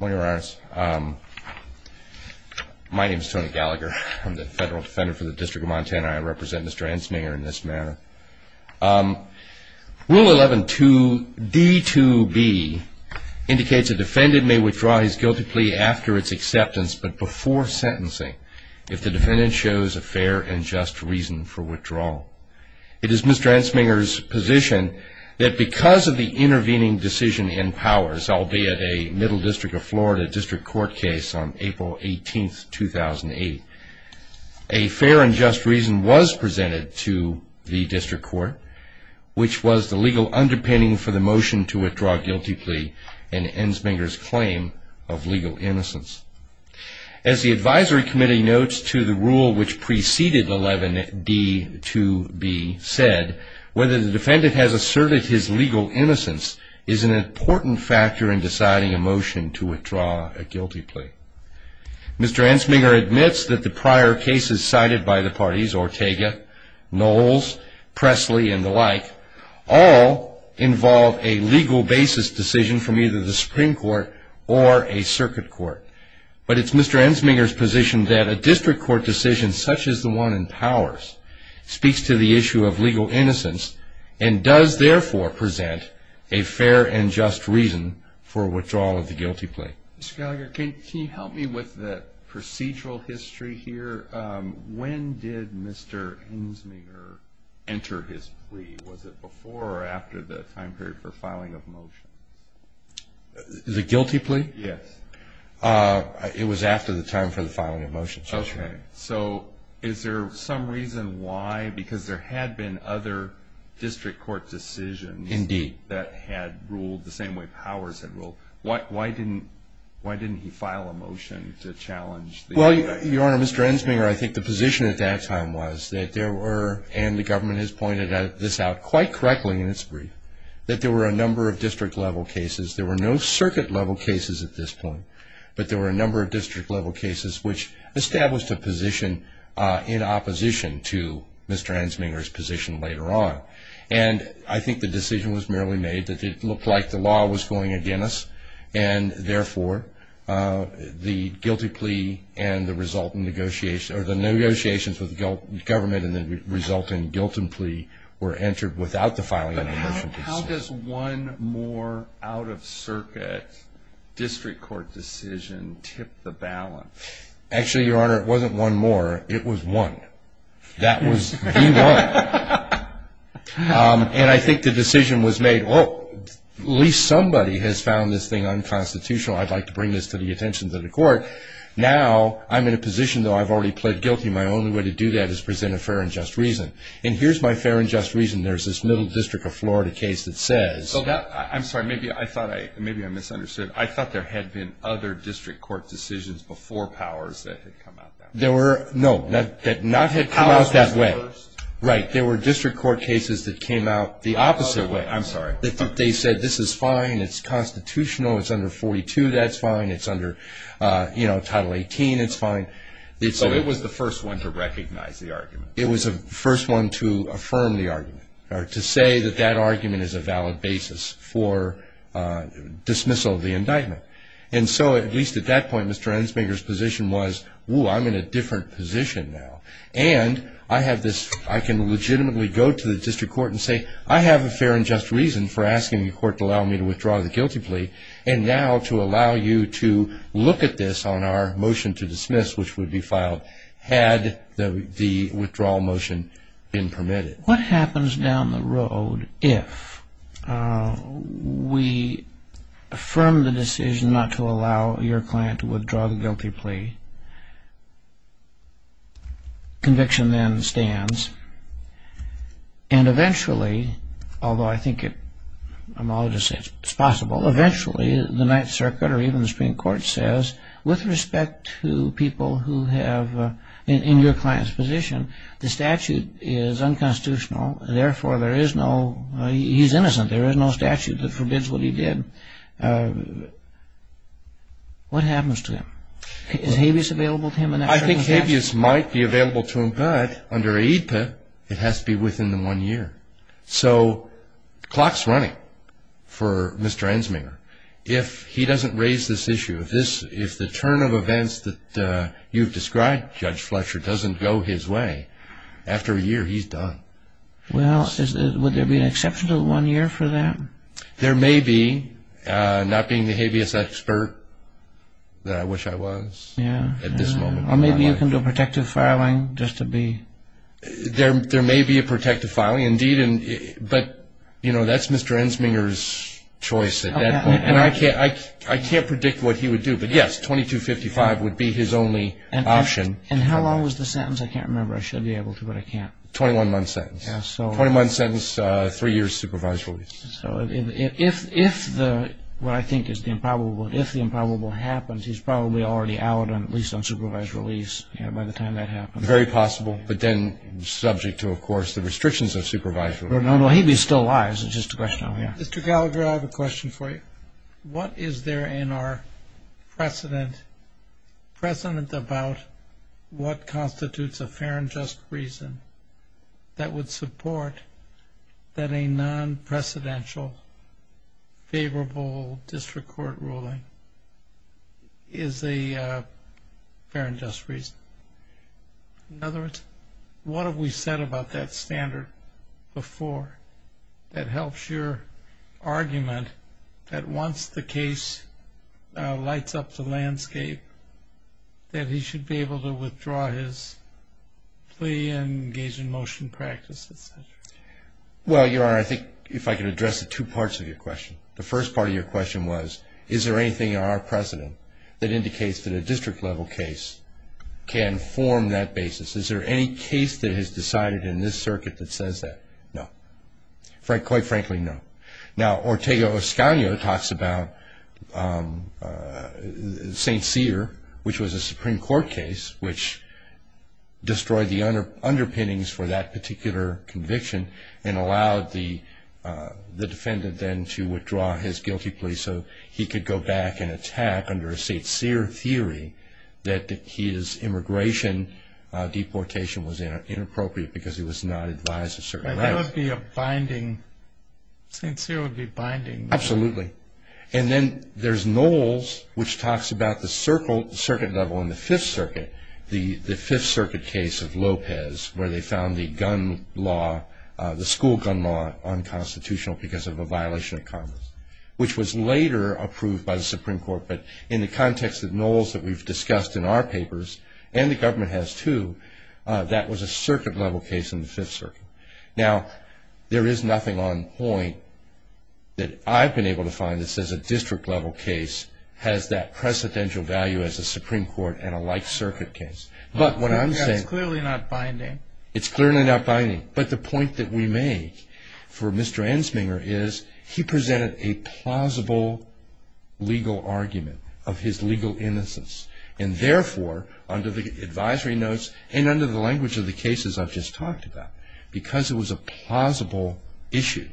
My name is Tony Gallagher. I'm the Federal Defender for the District of Montana. I represent Mr. Ensminger in this manner. Rule 11-2-D-2-B indicates a defendant may withdraw his guilty plea after its acceptance but before sentencing if the defendant shows a fair and just reason for withdrawal. It is Mr. Ensminger's position that because of the intervening decision in powers, albeit a Middle District of Florida District Court case on April 18, 2008, a fair and just reason was presented to the District Court, which was the legal underpinning for the motion to withdraw a guilty plea in Ensminger's claim of legal innocence. As the Advisory Committee notes to the rule which preceded Rule 11-D-2-B said, whether the defendant has asserted his legal innocence is an important factor in deciding a motion to withdraw a guilty plea. Mr. Ensminger admits that the prior cases cited by the parties, Ortega, Knowles, Presley, and the like, all involve a legal basis decision from either the Supreme Court or a circuit court. But it's Mr. Ensminger's position that a District Court decision such as the one in powers speaks to the issue of legal innocence and does therefore present a fair and just reason for withdrawal of the guilty plea. Mr. Gallagher, can you help me with the procedural history here? When did Mr. Ensminger enter his plea? Was it before or after the time period for filing of motions? The guilty plea? Yes. It was after the time for the filing of motions. Okay. So is there some reason why? Well, Your Honor, Mr. Ensminger, I think the position at that time was that there were, and the government has pointed this out quite correctly in its brief, that there were a number of district-level cases. There were no circuit-level cases at this point, but there were a number of district-level cases which established a position in opposition to Mr. Ensminger's position later on. And I think the decision was merely made that it looked like the law was going against us, and therefore the guilty plea and the resultant negotiations, or the negotiations with the government and the resultant guilt and plea were entered without the filing of the motion. But how does one more out-of-circuit District Court decision tip the balance? Actually, Your Honor, it wasn't one more. It was one. That was the one. And I think the decision was made, well, at least somebody has found this thing unconstitutional. I'd like to bring this to the attention of the court. Now I'm in a position, though I've already pled guilty, my only way to do that is present a fair and just reason. And here's my fair and just reason. There's this Middle District of Florida case that says – I'm sorry. Maybe I misunderstood. No, that not had come out that way. Right. There were District Court cases that came out the opposite way. I'm sorry. They said this is fine, it's constitutional, it's under 42, that's fine, it's under Title 18, it's fine. So it was the first one to recognize the argument. It was the first one to affirm the argument, or to say that that argument is a valid basis for dismissal of the indictment. And so, at least at that point, Mr. Ensminger's position was, ooh, I'm in a different position now. And I have this – I can legitimately go to the District Court and say, I have a fair and just reason for asking the court to allow me to withdraw the guilty plea, and now to allow you to look at this on our motion to dismiss, which would be filed had the withdrawal motion been permitted. What happens down the road if we affirm the decision not to allow your client to withdraw the guilty plea? Conviction then stands. And eventually, although I think it – I'm all just saying it's possible – eventually, the Ninth Circuit or even the Supreme Court says, with respect to people who have – in your client's position, the statute is unconstitutional, and therefore there is no – he's innocent, there is no statute that forbids what he did. What happens to him? Is habeas available to him in that circumstance? I think habeas might be available to him, but under AEDPA, it has to be within the one year. So the clock's running for Mr. Ensminger. If he doesn't raise this issue, if the turn of events that you've described, Judge Fletcher, doesn't go his way, after a year, he's done. Well, would there be an exception to the one year for that? There may be, not being the habeas expert that I wish I was at this moment in my life. Or maybe you can do a protective filing just to be – There may be a protective filing indeed, but, you know, that's Mr. Ensminger's choice at that point. And I can't predict what he would do. But, yes, 2255 would be his only option. And how long was the sentence? I can't remember. I should be able to, but I can't. Twenty-one month sentence. Twenty-one sentence, three years supervised release. So if the – what I think is the improbable – if the improbable happens, he's probably already out, at least on supervised release, by the time that happens. Very possible, but then subject to, of course, the restrictions of supervised release. No, no. Habeas still lies. It's just a question. Mr. Gallagher, I have a question for you. What is there in our precedent about what constitutes a fair and just reason that would support that a non-precedential favorable district court ruling is a fair and just reason? In other words, what have we said about that standard before that helps your argument that once the case lights up the landscape that he should be able to withdraw his plea and engage in motion practice, et cetera? Well, Your Honor, I think if I could address the two parts of your question. The first part of your question was, is there anything in our precedent that indicates that a district-level case can form that basis? Is there any case that is decided in this circuit that says that? No. Quite frankly, no. Now, Ortega-Oscanio talks about St. Cyr, which was a Supreme Court case, which destroyed the underpinnings for that particular conviction and allowed the defendant then to withdraw his guilty plea so he could go back and attack under a St. Cyr theory that his immigration deportation was inappropriate because he was not advised of certain rights. That would be a binding, St. Cyr would be binding. Absolutely. And then there's Knowles, which talks about the circuit level in the Fifth Circuit, the Fifth Circuit case of Lopez where they found the school gun law unconstitutional because of a violation of Congress, which was later approved by the Supreme Court. But in the context of Knowles that we've discussed in our papers, and the government has too, that was a circuit-level case in the Fifth Circuit. Now, there is nothing on point that I've been able to find that says a district-level case has that precedential value as a Supreme Court and a life circuit case. But what I'm saying – It's clearly not binding. It's clearly not binding. But the point that we make for Mr. Ensminger is he presented a plausible legal argument of his legal innocence. And therefore, under the advisory notes and under the language of the cases I've just talked about, because it was a plausible issue,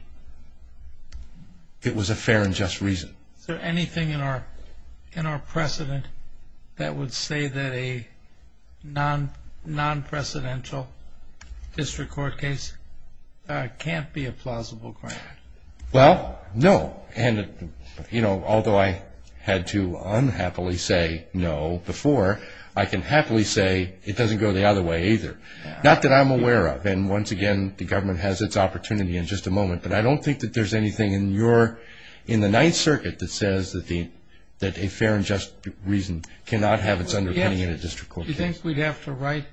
it was a fair and just reason. Is there anything in our precedent that would say that a non-precedential district court case can't be a plausible crime? Well, no. And although I had to unhappily say no before, I can happily say it doesn't go the other way either. Not that I'm aware of. And once again, the government has its opportunity in just a moment. But I don't think that there's anything in the Ninth Circuit that says that a fair and just reason cannot have its underpinning in a district court case. Do you think we'd have to write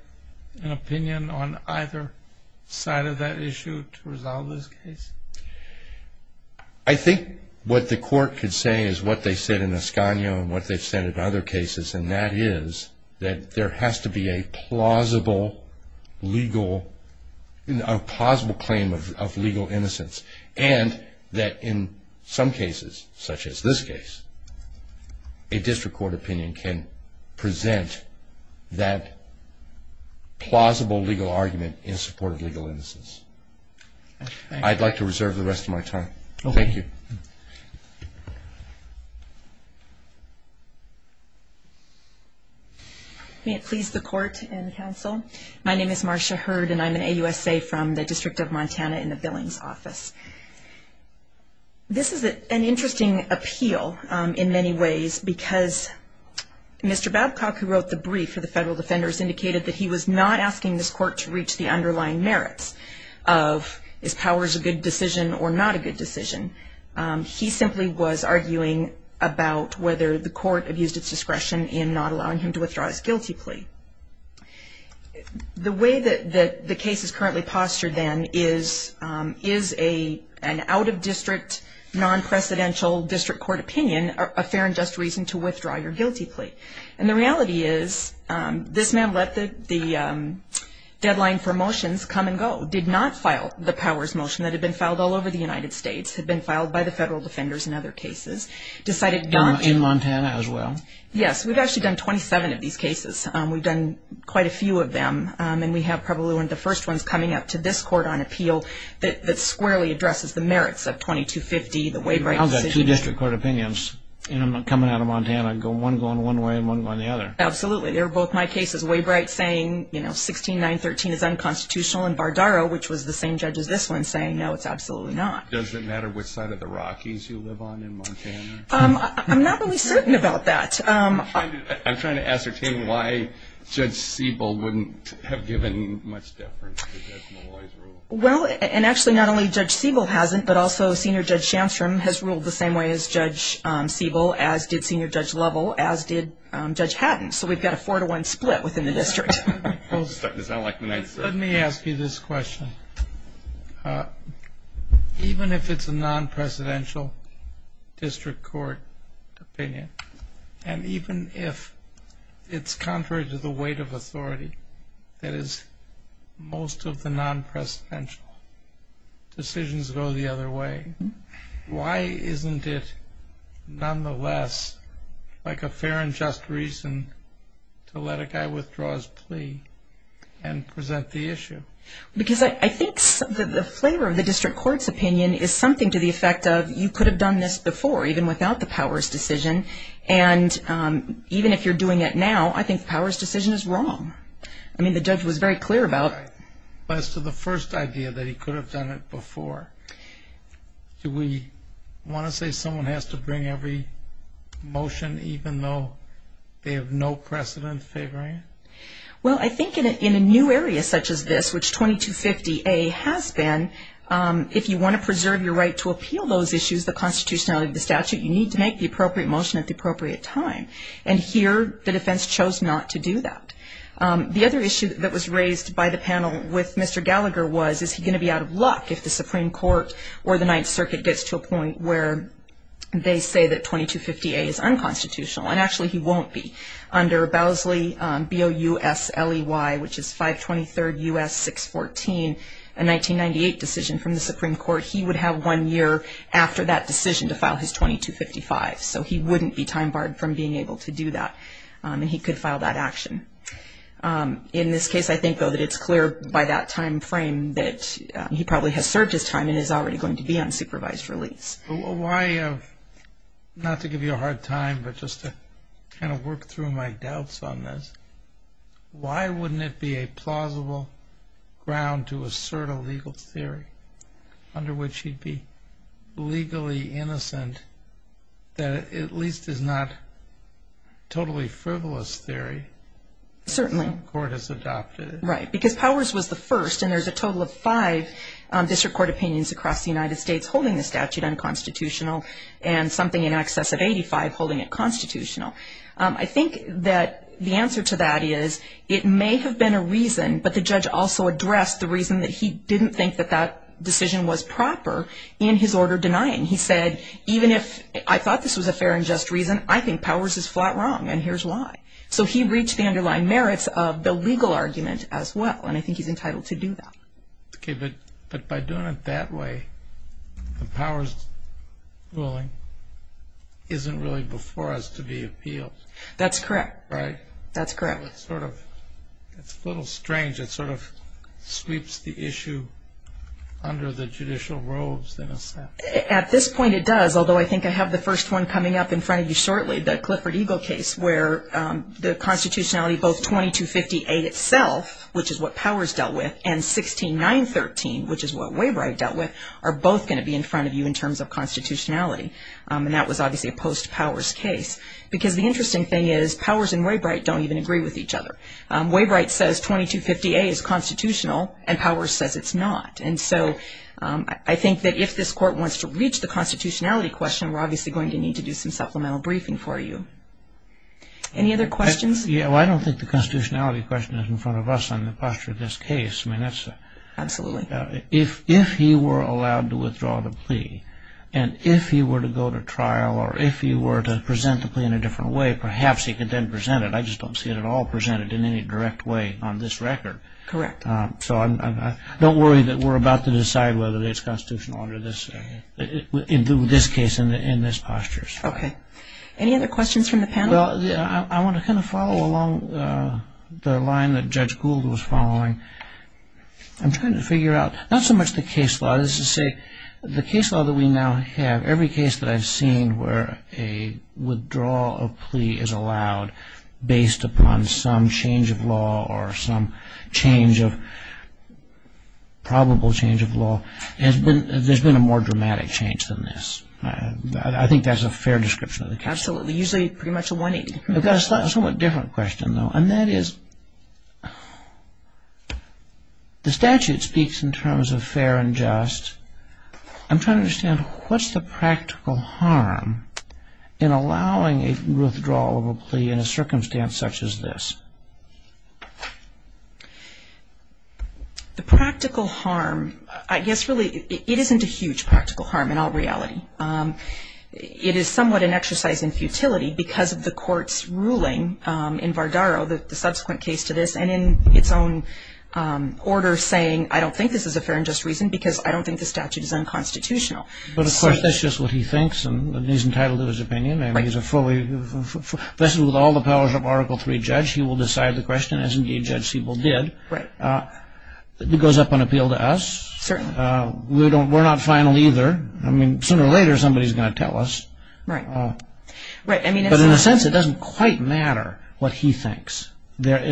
an opinion on either side of that issue to resolve this case? I think what the court could say is what they said in Ascanio and what they've said in other cases, and that is that there has to be a plausible claim of legal innocence. And that in some cases, such as this case, a district court opinion can present that plausible legal argument in support of legal innocence. I'd like to reserve the rest of my time. Thank you. May it please the court and counsel, my name is Marcia Hurd, and I'm an AUSA from the District of Montana in the Billings Office. This is an interesting appeal in many ways because Mr. Babcock, who wrote the brief for the federal defenders, indicated that he was not asking this court to reach the underlying merits of is powers a good decision or not a good decision. He simply was arguing about whether the court abused its discretion in not allowing him to withdraw his guilty plea. The way that the case is currently postured, then, is an out-of-district, non-precedential district court opinion a fair and just reason to withdraw your guilty plea? And the reality is this man let the deadline for motions come and go, did not file the powers motion that had been filed all over the United States, had been filed by the federal defenders in other cases, decided not to. In Montana as well? Yes. We've actually done 27 of these cases. We've done quite a few of them, and we have probably one of the first ones coming up to this court on appeal that squarely addresses the merits of 2250, the Waibright decision. I've got two district court opinions, and I'm coming out of Montana, one going one way and one going the other. Absolutely. They're both my cases. Waibright saying, you know, 16-9-13 is unconstitutional, and Bardaro, which was the same judge as this one, saying, no, it's absolutely not. Does it matter which side of the Rockies you live on in Montana? I'm not really certain about that. I'm trying to ascertain why Judge Siebel wouldn't have given much deference to Judge Malloy's rule. Well, and actually not only Judge Siebel hasn't, but also Senior Judge Shamstrom has ruled the same way as Judge Siebel, as did Senior Judge Lovell, as did Judge Haddon. So we've got a four-to-one split within the district. Let me ask you this question. Even if it's a non-presidential district court opinion, and even if it's contrary to the weight of authority that is most of the non-presidential, decisions go the other way, why isn't it nonetheless like a fair and just reason to let a guy withdraw his plea and present the issue? Because I think the flavor of the district court's opinion is something to the effect of, you could have done this before, even without the powers decision, and even if you're doing it now, I think the powers decision is wrong. I mean, the judge was very clear about it. But as to the first idea, that he could have done it before, do we want to say someone has to bring every motion even though they have no precedent favoring it? Well, I think in a new area such as this, which 2250A has been, if you want to preserve your right to appeal those issues, the constitutionality of the statute, you need to make the appropriate motion at the appropriate time. And here the defense chose not to do that. The other issue that was raised by the panel with Mr. Gallagher was, is he going to be out of luck if the Supreme Court or the Ninth Circuit gets to a point where they say that 2250A is unconstitutional? And actually he won't be. Under Bousley, B-O-U-S-L-E-Y, which is 523rd U.S. 614, a 1998 decision from the Supreme Court, he would have one year after that decision to file his 2255. So he wouldn't be time barred from being able to do that, and he could file that action. In this case, I think, though, that it's clear by that time frame that he probably has served his time and is already going to be on supervised release. Why, not to give you a hard time, but just to kind of work through my doubts on this, why wouldn't it be a plausible ground to assert a legal theory under which he'd be legally innocent that at least is not totally frivolous theory? Certainly. The Supreme Court has adopted it. Right, because Powers was the first, and there's a total of five district court opinions across the United States holding the statute unconstitutional and something in excess of 85 holding it constitutional. I think that the answer to that is it may have been a reason, but the judge also addressed the reason that he didn't think that that decision was proper in his order denying. He said, even if I thought this was a fair and just reason, I think Powers is flat wrong, and here's why. So he reached the underlying merits of the legal argument as well, and I think he's entitled to do that. Okay, but by doing it that way, the Powers ruling isn't really before us to be appealed. That's correct. Right? That's correct. It's a little strange. It sort of sweeps the issue under the judicial robes in a sense. At this point it does, although I think I have the first one coming up in front of you shortly, the Clifford Eagle case where the constitutionality, both 2258 itself, which is what Powers dealt with, and 16913, which is what Wabright dealt with, are both going to be in front of you in terms of constitutionality, and that was obviously a post-Powers case because the interesting thing is Powers and Waybright don't even agree with each other. Waybright says 2258 is constitutional and Powers says it's not, and so I think that if this court wants to reach the constitutionality question, we're obviously going to need to do some supplemental briefing for you. Any other questions? I don't think the constitutionality question is in front of us on the posture of this case. Absolutely. If he were allowed to withdraw the plea and if he were to go to trial or if he were to present the plea in a different way, perhaps he could then present it. I just don't see it at all presented in any direct way on this record. Correct. So don't worry that we're about to decide whether it's constitutional under this case and in this posture. Okay. Any other questions from the panel? Well, I want to kind of follow along the line that Judge Gould was following. I'm trying to figure out, not so much the case law, this is to say the case law that we now have, every case that I've seen where a withdrawal of plea is allowed based upon some change of law or some change of probable change of law, there's been a more dramatic change than this. I think that's a fair description of the case. Absolutely. Usually pretty much a 180. I've got a somewhat different question, though, and that is, the statute speaks in terms of fair and just. I'm trying to understand what's the practical harm in allowing a withdrawal of a plea in a circumstance such as this? The practical harm, I guess really it isn't a huge practical harm in all reality. It is somewhat an exercise in futility because of the court's ruling in Vardaro, the subsequent case to this, and in its own order saying, I don't think this is a fair and just reason because I don't think the statute is unconstitutional. But, of course, that's just what he thinks, and he's entitled to his opinion. Right. He's a fully, this is with all the powers of Article III judge. He will decide the question, as indeed Judge Siebel did. Right. It goes up on appeal to us. Certainly. We're not final either. I mean, sooner or later somebody's going to tell us. Right. But, in a sense, it doesn't quite matter what he thinks.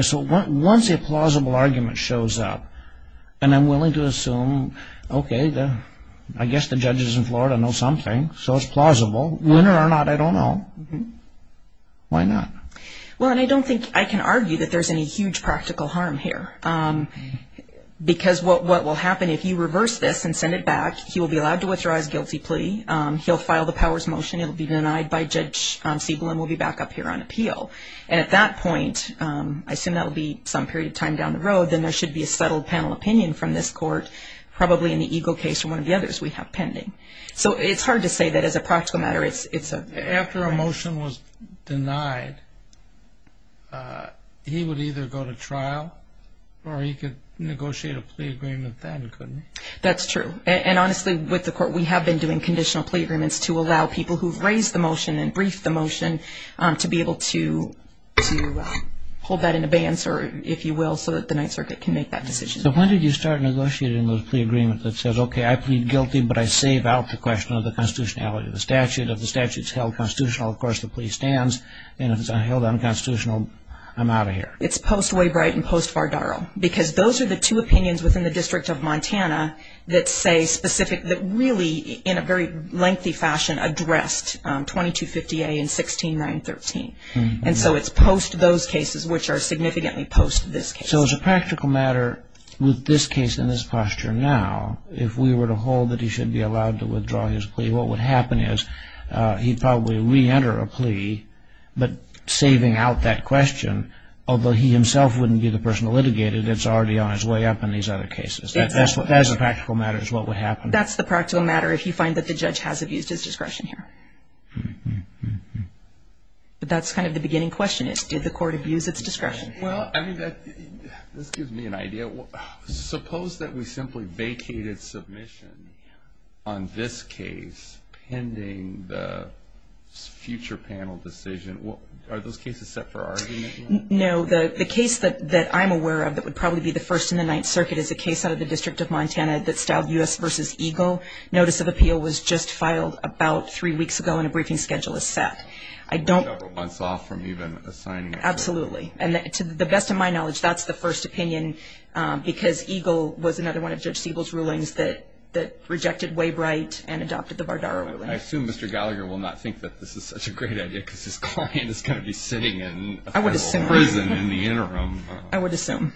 So once a plausible argument shows up, and I'm willing to assume, okay, I guess the judges in Florida know something, so it's plausible. Winner or not, I don't know. Why not? Well, and I don't think I can argue that there's any huge practical harm here because what will happen if you reverse this and send it back, he will be allowed to withdraw his guilty plea. He'll file the powers motion. It will be denied by Judge Siebel, and we'll be back up here on appeal. And at that point, I assume that will be some period of time down the road, then there should be a settled panel opinion from this court, probably in the Eagle case or one of the others we have pending. So it's hard to say that as a practical matter. After a motion was denied, he would either go to trial or he could negotiate a plea agreement then, couldn't he? That's true. And honestly, with the court, we have been doing conditional plea agreements to allow people who've raised the motion and briefed the motion to be able to hold that in abeyance, if you will, so that the Ninth Circuit can make that decision. So when did you start negotiating the plea agreement that says, okay, I plead guilty, but I save out the question of the constitutionality of the statute? If the statute's held constitutional, of course the plea stands. And if it's held unconstitutional, I'm out of here. It's post-Waybright and post-Vardaro because those are the two opinions within the District of Montana that say specific, that really in a very lengthy fashion addressed 2250A and 16913. And so it's post those cases, which are significantly post this case. So as a practical matter, with this case in this posture now, if we were to hold that he should be allowed to withdraw his plea, what would happen is he'd probably reenter a plea, but saving out that question, although he himself wouldn't be the person to litigate it, it's already on its way up in these other cases. That as a practical matter is what would happen. That's the practical matter if you find that the judge has abused his discretion here. But that's kind of the beginning question is, did the court abuse its discretion? Well, I mean, this gives me an idea. Suppose that we simply vacated submission on this case pending the future panel decision. Are those cases set for argument? No. The case that I'm aware of that would probably be the first in the Ninth Circuit is a case out of the District of Montana that's styled U.S. v. Eagle. Notice of appeal was just filed about three weeks ago, and a briefing schedule is set. A couple months off from even assigning it. Absolutely. And to the best of my knowledge, that's the first opinion because Eagle was another one of Judge Siebel's rulings that rejected Waybright and adopted the Vardaro ruling. I assume Mr. Gallagher will not think that this is such a great idea because his client is going to be sitting in prison in the interim. I would assume.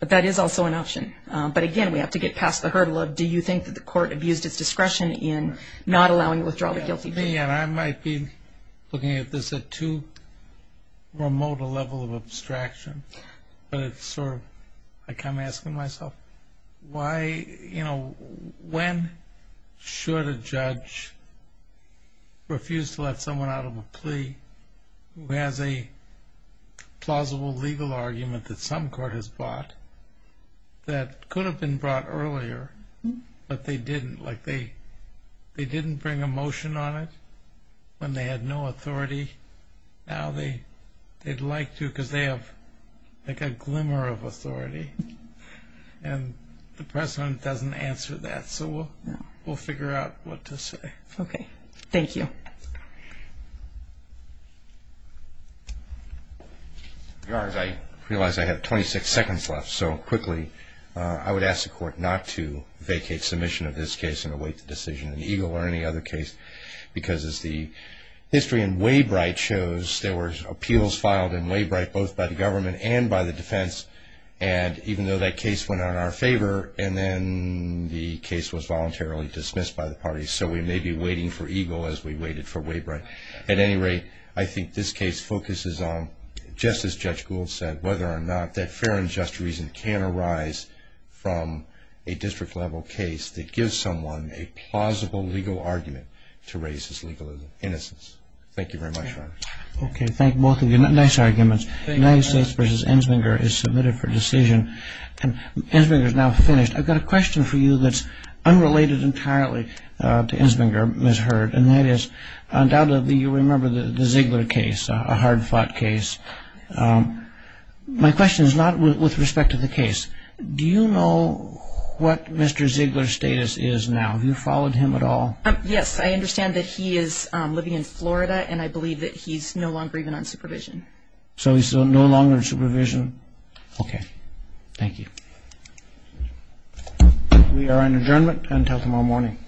But that is also an option. But, again, we have to get past the hurdle of do you think that the court abused its discretion in not allowing the withdrawal of the guilty plea? I come asking myself, when should a judge refuse to let someone out of a plea who has a plausible legal argument that some court has brought that could have been brought earlier but they didn't, like they didn't bring a motion on it when they had no authority. Now they'd like to because they have like a glimmer of authority, and the precedent doesn't answer that. So we'll figure out what to say. Okay. Thank you. As far as I realize, I have 26 seconds left. So quickly, I would ask the court not to vacate submission of this case and await the decision in Eagle or any other case because as the history in Waybright shows, there were appeals filed in Waybright both by the government and by the defense, and even though that case went out in our favor, and then the case was voluntarily dismissed by the parties. So we may be waiting for Eagle as we waited for Waybright. At any rate, I think this case focuses on, just as Judge Gould said, whether or not that fair and just reason can arise from a district-level case that gives someone a plausible legal argument to raise his legal innocence. Thank you very much, Your Honor. Okay. Thank both of you. Nice arguments. United States v. Enslinger is submitted for decision, and Enslinger is now finished. I've got a question for you that's unrelated entirely to Enslinger, Ms. Hurd, and that is undoubtedly you remember the Ziegler case, a hard-fought case. My question is not with respect to the case. Do you know what Mr. Ziegler's status is now? Have you followed him at all? Yes, I understand that he is living in Florida, and I believe that he's no longer even on supervision. So he's no longer on supervision? Okay. Thank you. We are on adjournment until tomorrow morning.